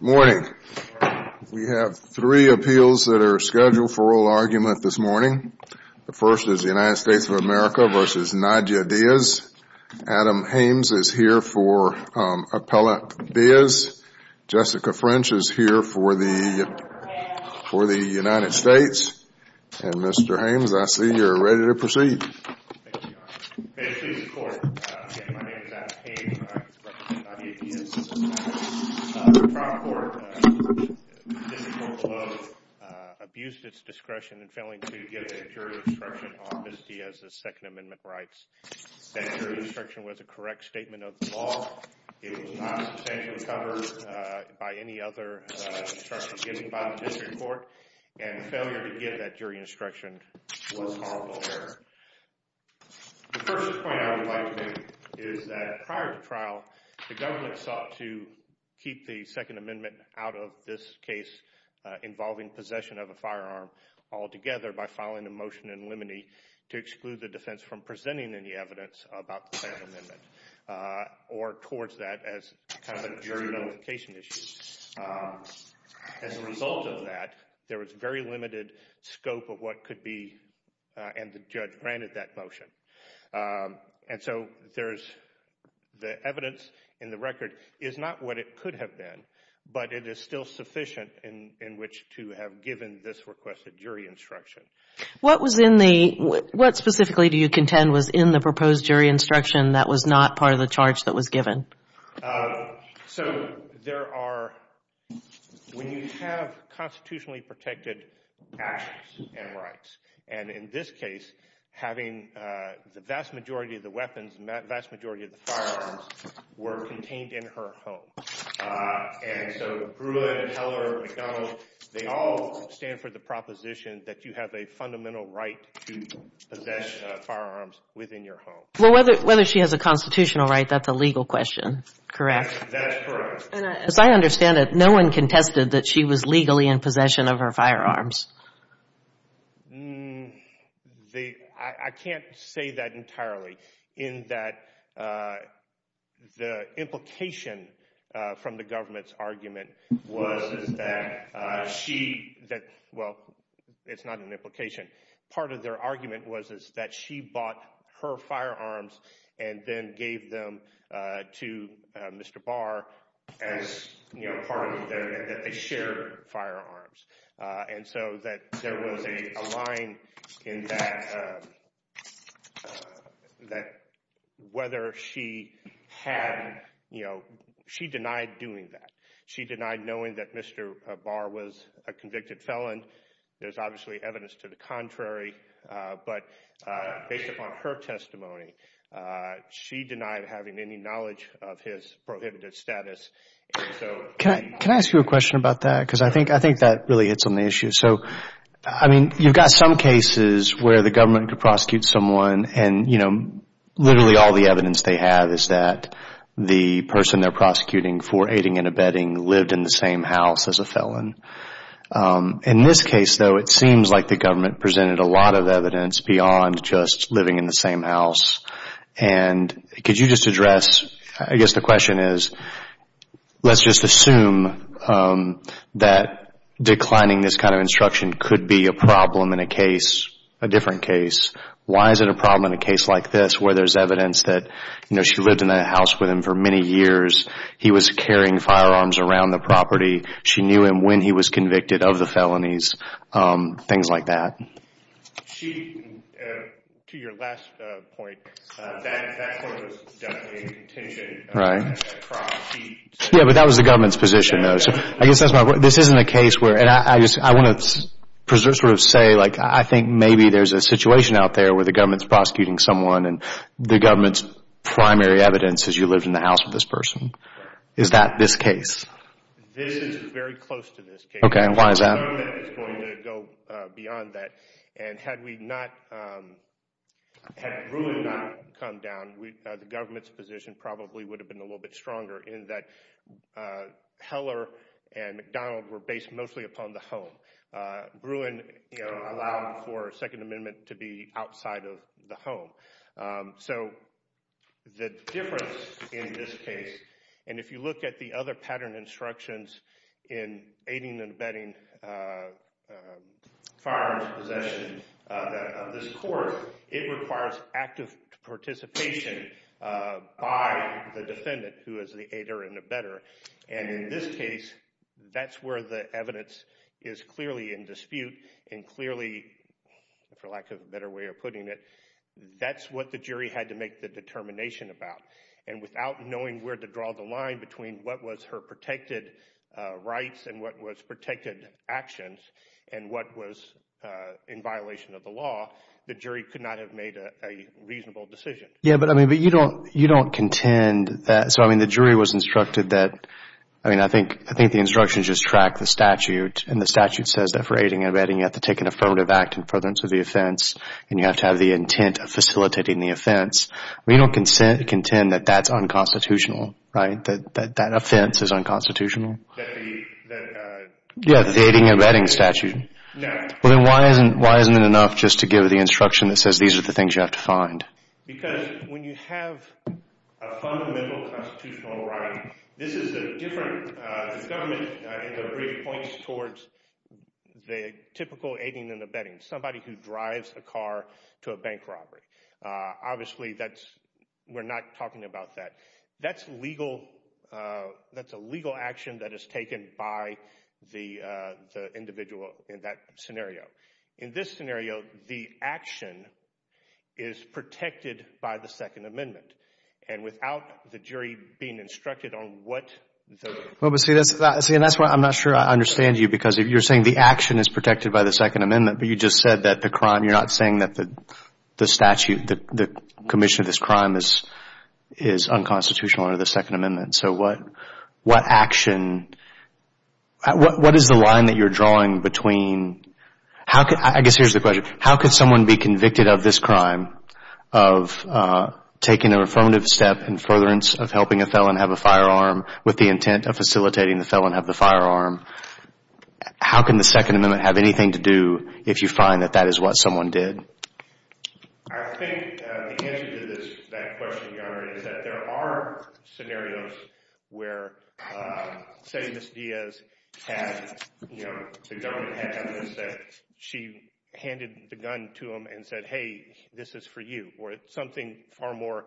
Morning. We have three appeals that are scheduled for oral argument this morning. The first is the United States of America v. Nadya Diaz. Adam Hames is here for Appellate Diaz. Jessica French is here for the United States. And Mr. Hames, I see you are ready to proceed. May it please the court, my name is Adam Hames and I represent Nadya Diaz. The trial court, the district court below, abused its discretion in failing to give a jury instruction on Ms. Diaz's Second Amendment rights. That jury instruction was a correct statement of the law. It was not substantially covered by any other instruction given by the district court. And the failure to give that jury instruction was horrible error. The first point I would like to make is that prior to trial, the government sought to keep the Second Amendment out of this case involving possession of a firearm altogether by filing a motion in limine to exclude the defense from presenting any evidence about the Second Amendment or towards that as kind of a jury notification issue. As a result of that, there was very limited scope of what could be, and the judge granted that motion. And so there is, the evidence in the record is not what it could have been, but it is still sufficient in which to have given this requested jury instruction. What was in the, what specifically do you contend was in the proposed jury instruction that was not part of the charge that was given? So there are, when you have constitutionally protected actions and rights, and in this case, having the vast majority of the weapons, the vast majority of the firearms were contained in her home. And so Pruitt and Heller and McDonald, they all stand for the proposition that you have a fundamental right to possess firearms within your home. Well, whether she has a constitutional right, that's a legal question, correct? That's correct. And as I understand it, no one contested that she was legally in possession of her firearms. I can't say that entirely in that the implication from the government's argument was that she, well, it's not an implication. And so that there was a line in that, that whether she had, you know, she denied doing that. She denied knowing that Mr. Barr was a convicted felon. There's obviously evidence to the contrary, but based upon her testimony, she denied having any knowledge of his prohibited status. Can I ask you a question about that? Because I think that really hits on the issue. So, I mean, you've got some cases where the government could prosecute someone and, you know, literally all the evidence they have is that the person they're prosecuting for aiding and abetting lived in the same house as a felon. In this case, though, it seems like the government presented a lot of evidence beyond just living in the same house. And could you just address, I guess the question is, let's just assume that declining this kind of instruction could be a problem in a case, a different case. Why is it a problem in a case like this where there's evidence that, you know, she lived in that house with him for many years. He was carrying firearms around the property. She knew him when he was convicted of the felonies, things like that. She, to your last point, that sort of is definitely a contention. Right. Yeah, but that was the government's position, though. So, I guess that's my point. This isn't a case where, and I want to sort of say, like, I think maybe there's a situation out there where the government's prosecuting someone and the government's primary evidence is you lived in the house with this person. Is that this case? This is very close to this case. Okay, and why is that? The government is going to go beyond that. And had we not, had Bruin not come down, the government's position probably would have been a little bit stronger in that Heller and McDonald were based mostly upon the home. Bruin allowed for Second Amendment to be outside of the home. So, the difference in this case, and if you look at the other pattern instructions in aiding and abetting firearms possession of this court, it requires active participation by the defendant who is the aider and abetter. And in this case, that's where the evidence is clearly in dispute and clearly, for lack of a better way of putting it, that's what the jury had to make the determination about. And without knowing where to draw the line between what was her protected rights and what was protected actions and what was in violation of the law, the jury could not have made a reasonable decision. Yeah, but I mean, but you don't contend that, so I mean, the jury was instructed that, I mean, I think the instructions just track the statute. And the statute says that for aiding and abetting, you have to take an affirmative act in prevalence of the offense. And you have to have the intent of facilitating the offense. You don't contend that that's unconstitutional, right, that that offense is unconstitutional? That the... Yeah, the aiding and abetting statute. No. Well, then why isn't it enough just to give the instruction that says these are the things you have to find? Because when you have a fundamental constitutional right, this is a different... The government, in their brief, points towards the typical aiding and abetting, somebody who drives a car to a bank robbery. Obviously, that's... we're not talking about that. That's legal... that's a legal action that is taken by the individual in that scenario. In this scenario, the action is protected by the Second Amendment. And without the jury being instructed on what the... Well, but see, that's why I'm not sure I understand you, because you're saying the action is protected by the Second Amendment, but you just said that the crime, you're not saying that the statute, the commission of this crime is unconstitutional under the Second Amendment. So what action... what is the line that you're drawing between... I guess here's the question. How could someone be convicted of this crime of taking a affirmative step in furtherance of helping a felon have a firearm with the intent of facilitating the felon have the firearm? How can the Second Amendment have anything to do if you find that that is what someone did? I think the answer to that question, Your Honor, is that there are scenarios where, say, Ms. Diaz had, you know, the government had evidence that she handed the gun to him and said, hey, this is for you. Or it's something far more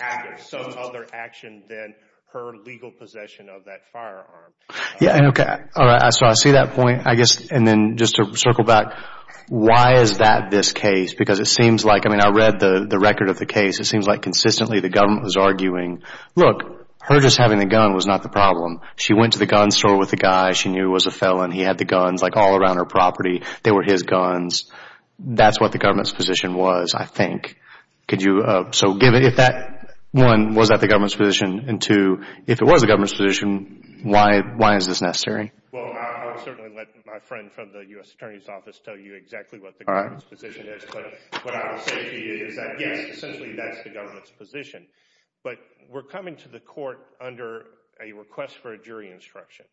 active, some other action than her legal possession of that firearm. Yeah, okay. All right. So I see that point, I guess. And then just to circle back, why is that this case? Because it seems like, I mean, I read the record of the case. It seems like consistently the government was arguing, look, her just having the gun was not the problem. She went to the gun store with the guy. She knew he was a felon. He had the guns, like, all around her property. They were his guns. That's what the government's position was, I think. Could you... One, was that the government's position? And two, if it was the government's position, why is this necessary? Well, I'll certainly let my friend from the U.S. Attorney's Office tell you exactly what the government's position is. But what I would say to you is that, yes, essentially that's the government's position. But we're coming to the court under a request for a jury instruction.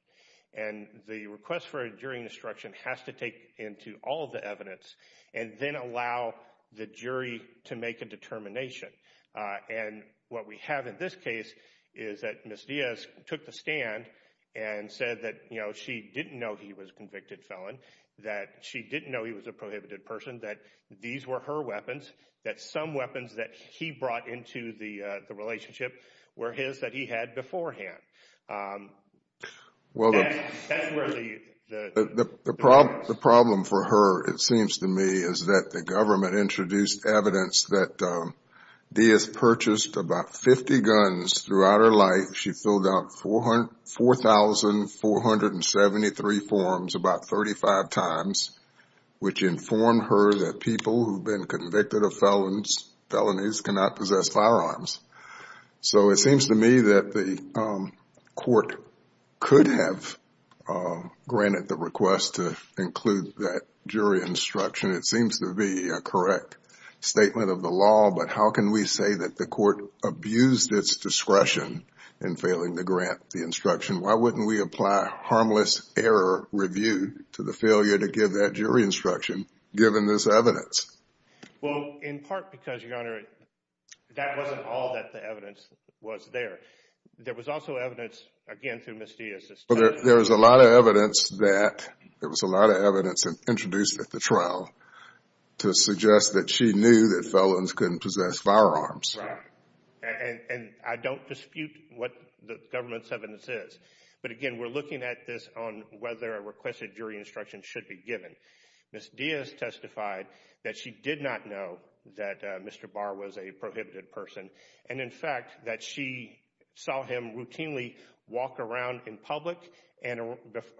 And the request for a jury instruction has to take into all of the evidence and then allow the jury to make a determination. And what we have in this case is that Ms. Diaz took the stand and said that she didn't know he was a convicted felon, that she didn't know he was a prohibited person, that these were her weapons, that some weapons that he brought into the relationship were his that he had beforehand. That's where the... The problem for her, it seems to me, is that the government introduced evidence that Diaz purchased about 50 guns throughout her life. She filled out 4,473 forms about 35 times, which informed her that people who've been convicted of felonies cannot possess firearms. So it seems to me that the court could have granted the request to include that jury instruction. It seems to be a correct statement of the law. But how can we say that the court abused its discretion in failing to grant the instruction? Why wouldn't we apply harmless error review to the failure to give that jury instruction given this evidence? Well, in part because, Your Honor, that wasn't all that the evidence was there. There was also evidence, again, through Ms. Diaz's testimony... There was a lot of evidence that was introduced at the trial to suggest that she knew that felons couldn't possess firearms. Right. And I don't dispute what the government's evidence is. But again, we're looking at this on whether a requested jury instruction should be given. Ms. Diaz testified that she did not know that Mr. Barr was a prohibited person. And, in fact, that she saw him routinely walk around in public and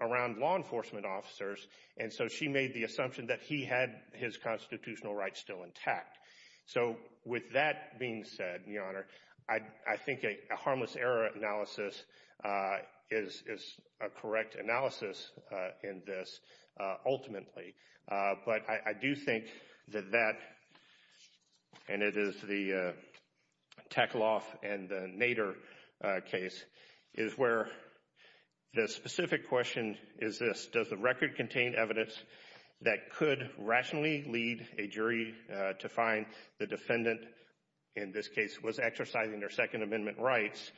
around law enforcement officers. And so she made the assumption that he had his constitutional rights still intact. So with that being said, Your Honor, I think a harmless error analysis is a correct analysis in this ultimately. But I do think that that, and it is the Tekloff and the Nader case, is where the specific question is this. Does the record contain evidence that could rationally lead a jury to find the defendant, in this case, was exercising their Second Amendment rights?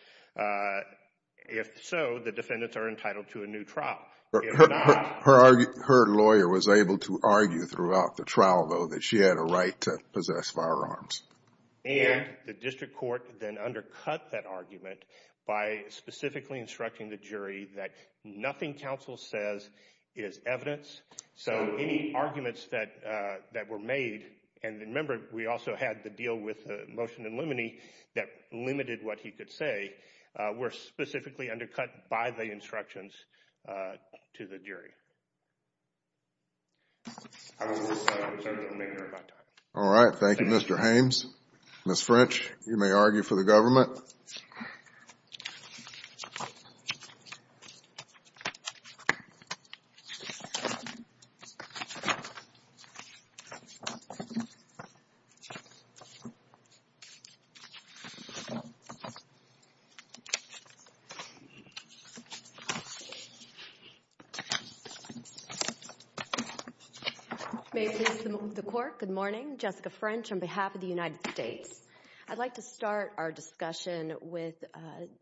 If so, the defendants are entitled to a new trial. Her lawyer was able to argue throughout the trial, though, that she had a right to possess firearms. And the district court then undercut that argument by specifically instructing the jury that nothing counsel says is evidence. So any arguments that were made, and remember, we also had the deal with the motion in limine that limited what he could say, were specifically undercut by the instructions to the jury. All right. Thank you, Mr. Hames. Ms. French, you may argue for the government. May it please the court, good morning. Jessica French on behalf of the United States. I'd like to start our discussion with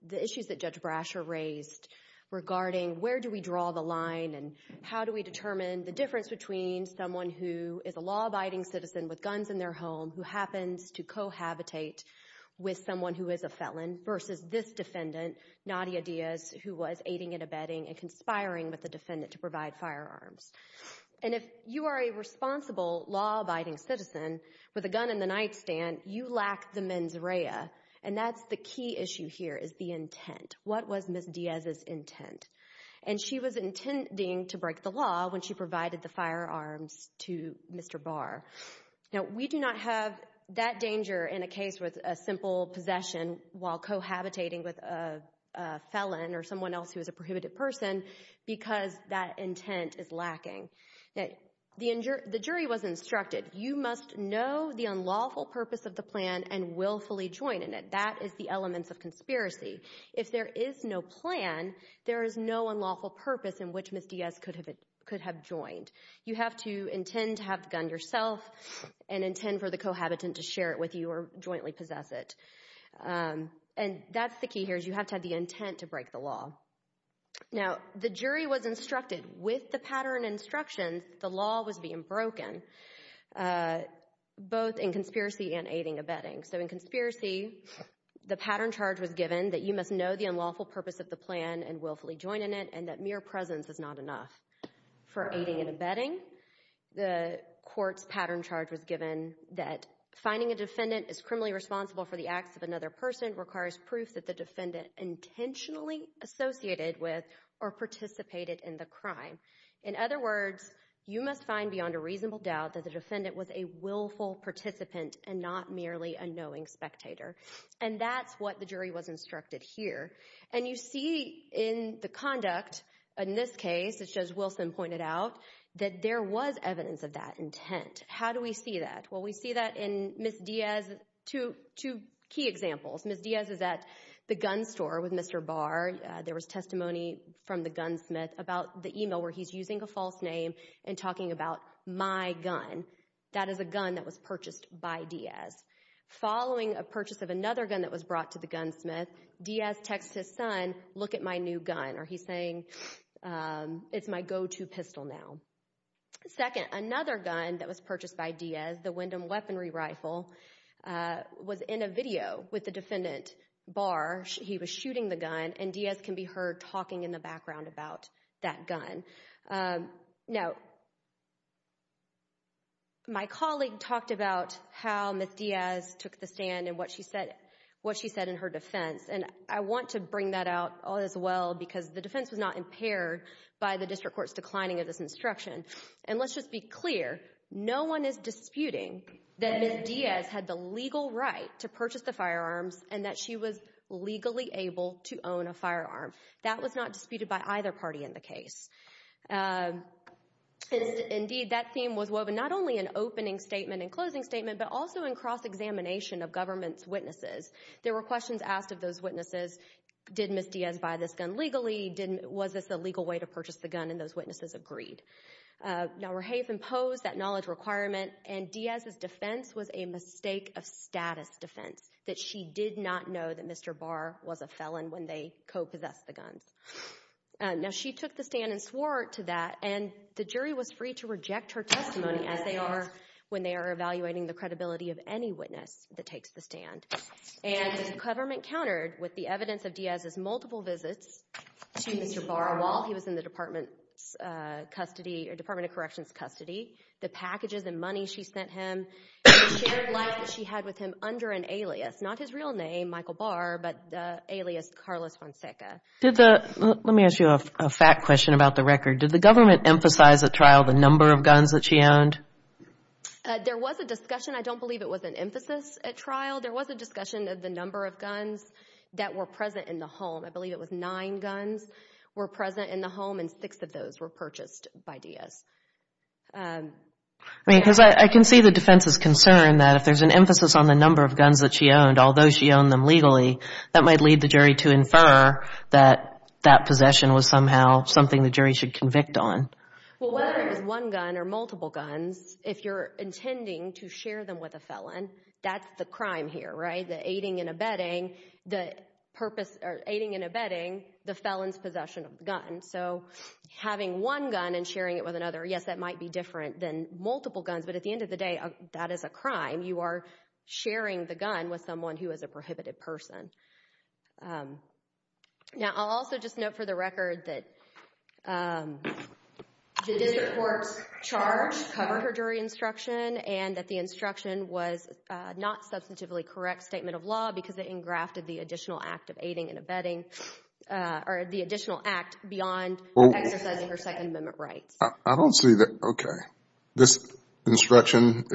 the issues that Judge Brasher raised regarding where do we draw the line and how do we determine the difference between someone who is a law-abiding citizen with guns in their home who happens to cohabitate with someone who is a felon versus this defendant, Nadia Diaz, who was aiding and abetting and conspiring with the defendant to provide firearms. And if you are a responsible law-abiding citizen with a gun in the nightstand, you lack the mens rea, and that's the key issue here is the intent. What was Ms. Diaz's intent? And she was intending to break the law when she provided the firearms to Mr. Barr. Now, we do not have that danger in a case with a simple possession while cohabitating with a felon or someone else who is a prohibited person because that intent is lacking. The jury was instructed, you must know the unlawful purpose of the plan and willfully join in it. That is the element of conspiracy. If there is no plan, there is no unlawful purpose in which Ms. Diaz could have joined. You have to intend to have the gun yourself and intend for the cohabitant to share it with you or jointly possess it. And that's the key here is you have to have the intent to break the law. Now, the jury was instructed with the pattern instructions the law was being broken, both in conspiracy and aiding and abetting. So in conspiracy, the pattern charge was given that you must know the unlawful purpose of the plan and willfully join in it and that mere presence is not enough. For aiding and abetting, the court's pattern charge was given that finding a defendant as criminally responsible for the acts of another person requires proof that the defendant intentionally associated with or participated in the crime. In other words, you must find beyond a reasonable doubt that the defendant was a willful participant and not merely a knowing spectator. And that's what the jury was instructed here. And you see in the conduct in this case, as Wilson pointed out, that there was evidence of that intent. How do we see that? Well, we see that in Ms. Diaz, two key examples. Ms. Diaz is at the gun store with Mr. Barr. There was testimony from the gunsmith about the email where he's using a false name and talking about my gun. That is a gun that was purchased by Diaz. Following a purchase of another gun that was brought to the gunsmith, Diaz texts his son, look at my new gun, or he's saying it's my go-to pistol now. Second, another gun that was purchased by Diaz, the Wyndham weaponry rifle, was in a video with the defendant, Barr. He was shooting the gun, and Diaz can be heard talking in the background about that gun. Now, my colleague talked about how Ms. Diaz took the stand and what she said in her defense, and I want to bring that out as well because the defense was not impaired by the district court's declining of this instruction. And let's just be clear, no one is disputing that Ms. Diaz had the legal right to purchase the firearms and that she was legally able to own a firearm. That was not disputed by either party in the case. Indeed, that theme was woven not only in opening statement and closing statement, but also in cross-examination of government's witnesses. There were questions asked of those witnesses. Did Ms. Diaz buy this gun legally? Was this the legal way to purchase the gun? And those witnesses agreed. Now, Rahafe imposed that knowledge requirement, and Diaz's defense was a mistake of status defense, that she did not know that Mr. Barr was a felon when they co-possessed the guns. Now, she took the stand and swore to that, and the jury was free to reject her testimony, as they are when they are evaluating the credibility of any witness that takes the stand. And the government countered with the evidence of Diaz's multiple visits to Mr. Barr while he was in the Department of Corrections' custody, the packages and money she sent him, and the shared life that she had with him under an alias. Not his real name, Michael Barr, but alias Carlos Fonseca. Let me ask you a fact question about the record. Did the government emphasize at trial the number of guns that she owned? There was a discussion. I don't believe it was an emphasis at trial. There was a discussion of the number of guns that were present in the home. I believe it was nine guns were present in the home, and six of those were purchased by Diaz. I mean, because I can see the defense's concern that if there's an emphasis on the number of guns that she owned, although she owned them legally, that might lead the jury to infer that that possession was somehow something the jury should convict on. Well, whether it was one gun or multiple guns, if you're intending to share them with a felon, that's the crime here, right? The aiding and abetting the purpose or aiding and abetting the felon's possession of the gun. So having one gun and sharing it with another, yes, that might be different than multiple guns, but at the end of the day, that is a crime. You are sharing the gun with someone who is a prohibited person. Now, I'll also just note for the record that the district court's charge covered her jury instruction and that the instruction was not a substantively correct statement of law because they engrafted the additional act of aiding and abetting or the additional act beyond exercising her Second Amendment rights. I don't see that. Okay. This instruction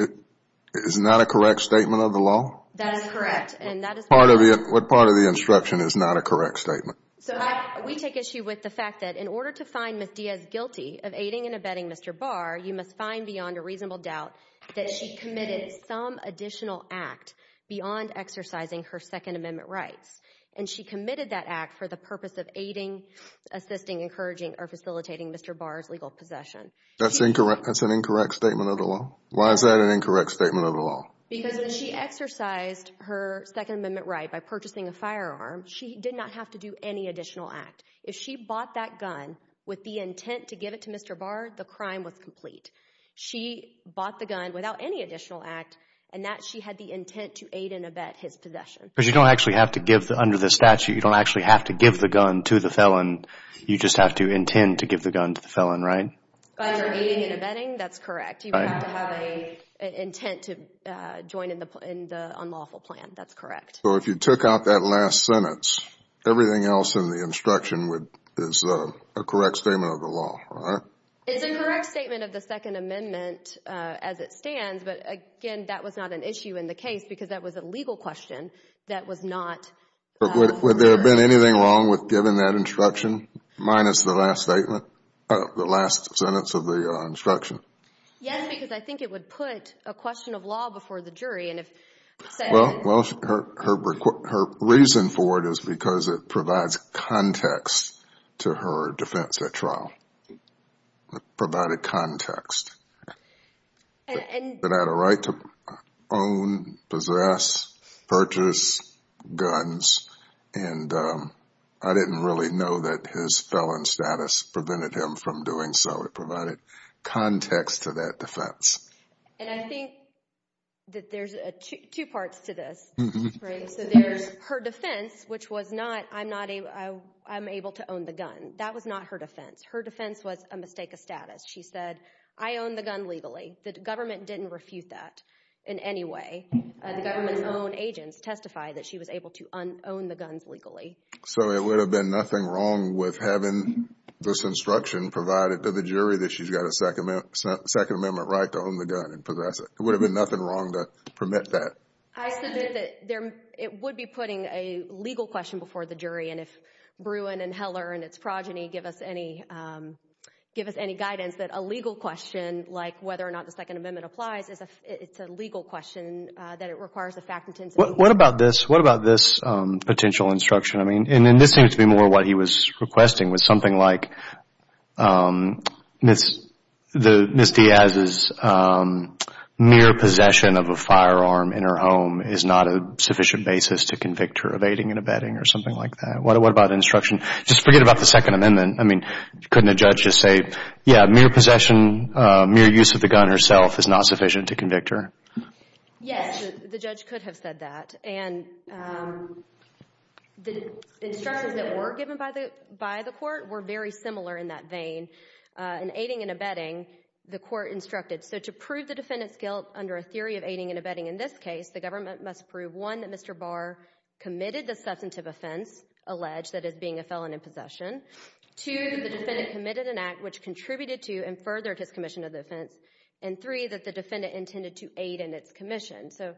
is not a correct statement of the law? That is correct. What part of the instruction is not a correct statement? So we take issue with the fact that in order to find Ms. Diaz guilty of aiding and abetting Mr. Barr, you must find beyond a reasonable doubt that she committed some additional act beyond exercising her Second Amendment rights, and she committed that act for the purpose of aiding, assisting, encouraging, or facilitating Mr. Barr's legal possession. That's an incorrect statement of the law? Why is that an incorrect statement of the law? Because when she exercised her Second Amendment right by purchasing a firearm, she did not have to do any additional act. If she bought that gun with the intent to give it to Mr. Barr, the crime was complete. She bought the gun without any additional act, and that she had the intent to aid and abet his possession. Because you don't actually have to give under the statute. You don't actually have to give the gun to the felon. You just have to intend to give the gun to the felon, right? By your aiding and abetting, that's correct. You have to have an intent to join in the unlawful plan. That's correct. So if you took out that last sentence, everything else in the instruction is a correct statement of the law, right? It's a correct statement of the Second Amendment as it stands, but, again, that was not an issue in the case because that was a legal question that was not— Would there have been anything wrong with giving that instruction minus the last sentence of the instruction? Yes, because I think it would put a question of law before the jury, and if said— Well, her reason for it is because it provides context to her defense at trial. It provided context that I had a right to own, possess, purchase guns, and I didn't really know that his felon status prevented him from doing so. It provided context to that defense. And I think that there's two parts to this, right? So there's her defense, which was not, I'm able to own the gun. That was not her defense. Her defense was a mistake of status. She said, I own the gun legally. The government didn't refute that in any way. The government's own agents testified that she was able to own the guns legally. So it would have been nothing wrong with having this instruction provided to the jury that she's got a Second Amendment right to own the gun and possess it. It would have been nothing wrong to permit that. I said that it would be putting a legal question before the jury, and if Bruin and Heller and its progeny give us any guidance that a legal question, like whether or not the Second Amendment applies, it's a legal question that it requires a fact-intensive inquiry. What about this potential instruction? I mean, and this seems to be more what he was requesting, was something like Ms. Diaz's mere possession of a firearm in her home is not a sufficient basis to convict her of aiding and abetting or something like that. What about instruction? Just forget about the Second Amendment. I mean, couldn't a judge just say, yeah, mere possession, mere use of the gun herself is not sufficient to convict her? Yes, the judge could have said that, and the instructions that were given by the court were very similar in that vein. In aiding and abetting, the court instructed, so to prove the defendant's guilt under a theory of aiding and abetting in this case, the government must prove, one, that Mr. Barr committed the substantive offense alleged, that is, being a felon in possession, two, that the defendant committed an act which contributed to and furthered his commission of the offense, and three, that the defendant intended to aid in its commission. So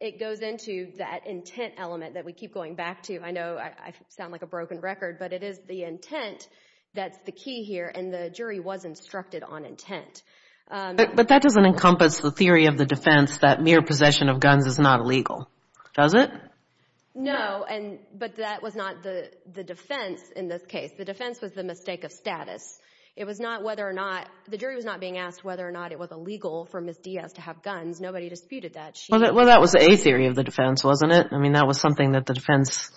it goes into that intent element that we keep going back to. I know I sound like a broken record, but it is the intent that's the key here, and the jury was instructed on intent. But that doesn't encompass the theory of the defense that mere possession of guns is not illegal, does it? No, but that was not the defense in this case. The defense was the mistake of status. The jury was not being asked whether or not it was illegal for Ms. Diaz to have guns. Nobody disputed that. Well, that was a theory of the defense, wasn't it? I mean, that was something that the defense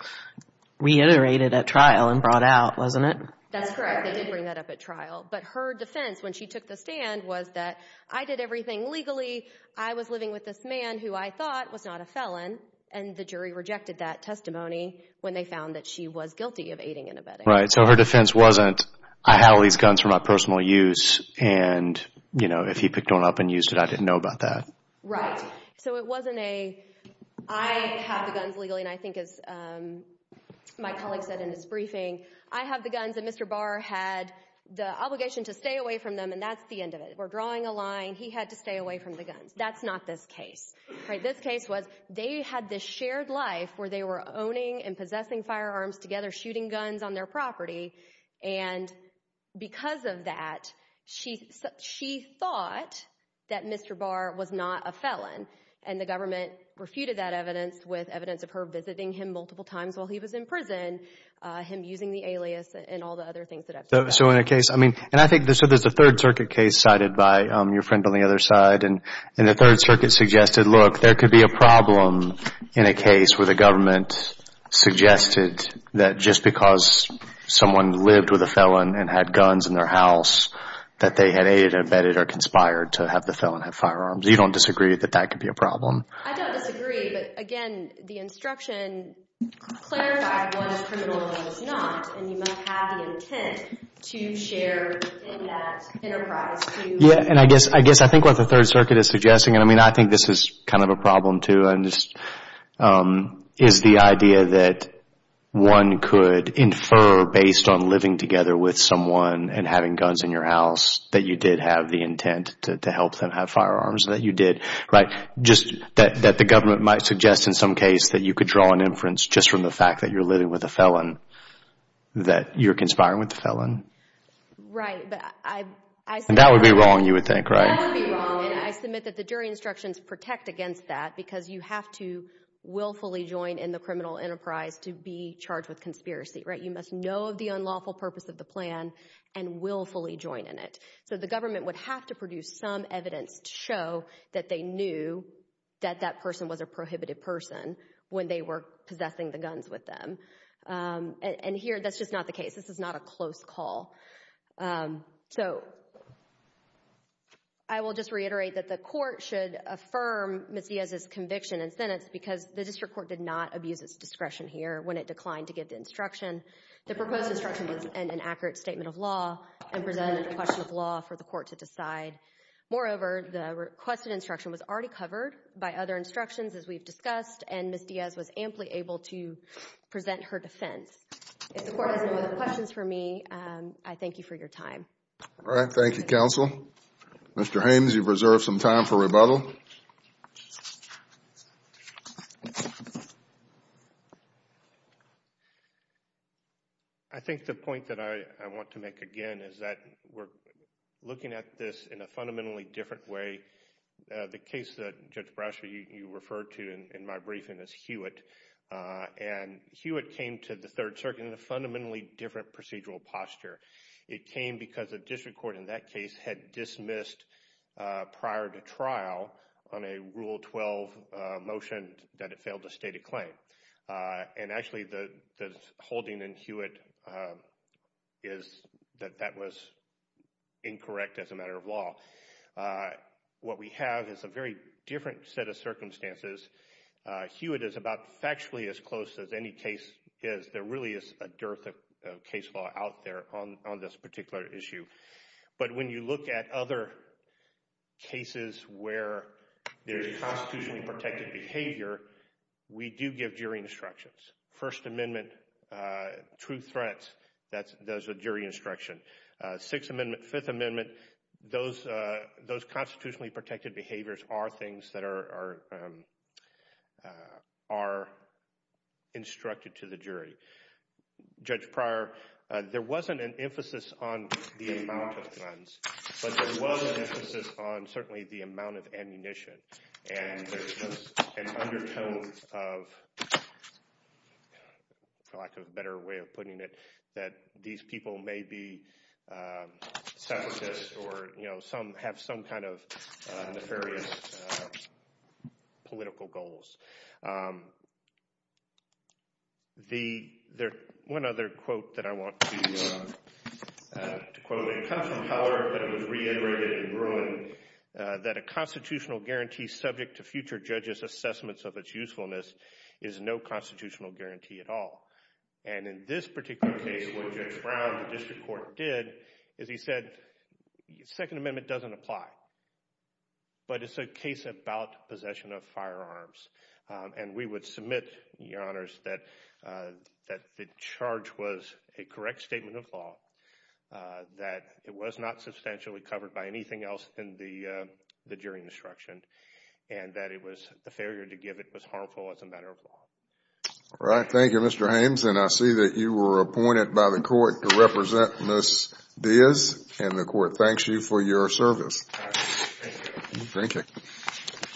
reiterated at trial and brought out, wasn't it? That's correct. They did bring that up at trial. But her defense when she took the stand was that I did everything legally, I was living with this man who I thought was not a felon, and the jury rejected that testimony when they found that she was guilty of aiding and abetting. Right, so her defense wasn't I have all these guns for my personal use, and if he picked one up and used it, I didn't know about that. Right. So it wasn't a I have the guns legally, and I think as my colleague said in his briefing, I have the guns and Mr. Barr had the obligation to stay away from them, and that's the end of it. We're drawing a line. He had to stay away from the guns. That's not this case. This case was they had this shared life where they were owning and possessing firearms together, they were shooting guns on their property, and because of that, she thought that Mr. Barr was not a felon, and the government refuted that evidence with evidence of her visiting him multiple times while he was in prison, him using the alias and all the other things that have to do with that. So in a case, I mean, and I think so there's a Third Circuit case cited by your friend on the other side, and the Third Circuit suggested, look, there could be a problem in a case where the government suggested that just because someone lived with a felon and had guns in their house, that they had aided, abetted, or conspired to have the felon have firearms. You don't disagree that that could be a problem? I don't disagree, but again, the instruction clarified one is criminal and one is not, and you must have the intent to share in that enterprise. Yeah, and I guess I think what the Third Circuit is suggesting, and I mean, I think this is kind of a problem too, is the idea that one could infer based on living together with someone and having guns in your house that you did have the intent to help them have firearms, that you did, right? Just that the government might suggest in some case that you could draw an inference just from the fact that you're living with a felon, that you're conspiring with the felon. Right, but I... And that would be wrong, you would think, right? That would be wrong, and I submit that the jury instructions protect against that because you have to willfully join in the criminal enterprise to be charged with conspiracy, right? You must know of the unlawful purpose of the plan and willfully join in it. So the government would have to produce some evidence to show that they knew that that person was a prohibited person when they were possessing the guns with them. And here, that's just not the case. This is not a close call. So I will just reiterate that the court should affirm Ms. Diaz's conviction and sentence because the district court did not abuse its discretion here when it declined to give the instruction. The proposed instruction was an inaccurate statement of law and presented a question of law for the court to decide. Moreover, the requested instruction was already covered by other instructions, as we've discussed, and Ms. Diaz was amply able to present her defense. If the court has no other questions for me, I thank you for your time. All right. Thank you, counsel. Mr. Haynes, you've reserved some time for rebuttal. I think the point that I want to make again is that we're looking at this in a fundamentally different way. The case that Judge Brasher, you referred to in my briefing, is Hewitt, and Hewitt came to the Third Circuit in a fundamentally different procedural posture. It came because the district court in that case had dismissed prior to trial on a Rule 12 motion that it failed to state a claim. And actually, the holding in Hewitt is that that was incorrect as a matter of law. What we have is a very different set of circumstances. Hewitt is about factually as close as any case is. There really is a dearth of case law out there on this particular issue. But when you look at other cases where there's constitutionally protected behavior, we do give jury instructions. First Amendment, true threats, that's a jury instruction. Sixth Amendment, Fifth Amendment, those constitutionally protected behaviors are things that are instructed to the jury. Judge Pryor, there wasn't an emphasis on the amount of guns, but there was an emphasis on certainly the amount of ammunition. And there's just an undertone of, for lack of a better way of putting it, that these people may be separatists or have some kind of nefarious political goals. There's one other quote that I want to quote. It comes from Howard, but it was reiterated in Bruin, that a constitutional guarantee subject to future judges' assessments of its usefulness is no constitutional guarantee at all. And in this particular case, what Judge Brown in the district court did is he said Second Amendment doesn't apply, but it's a case about possession of firearms. And we would submit, Your Honors, that the charge was a correct statement of law, that it was not substantially covered by anything else than the jury instruction, and that the failure to give it was harmful as a matter of law. All right. Thank you, Mr. Hames. And I see that you were appointed by the court to represent Ms. Diaz, and the court thanks you for your service. All right. Thank you. Thank you.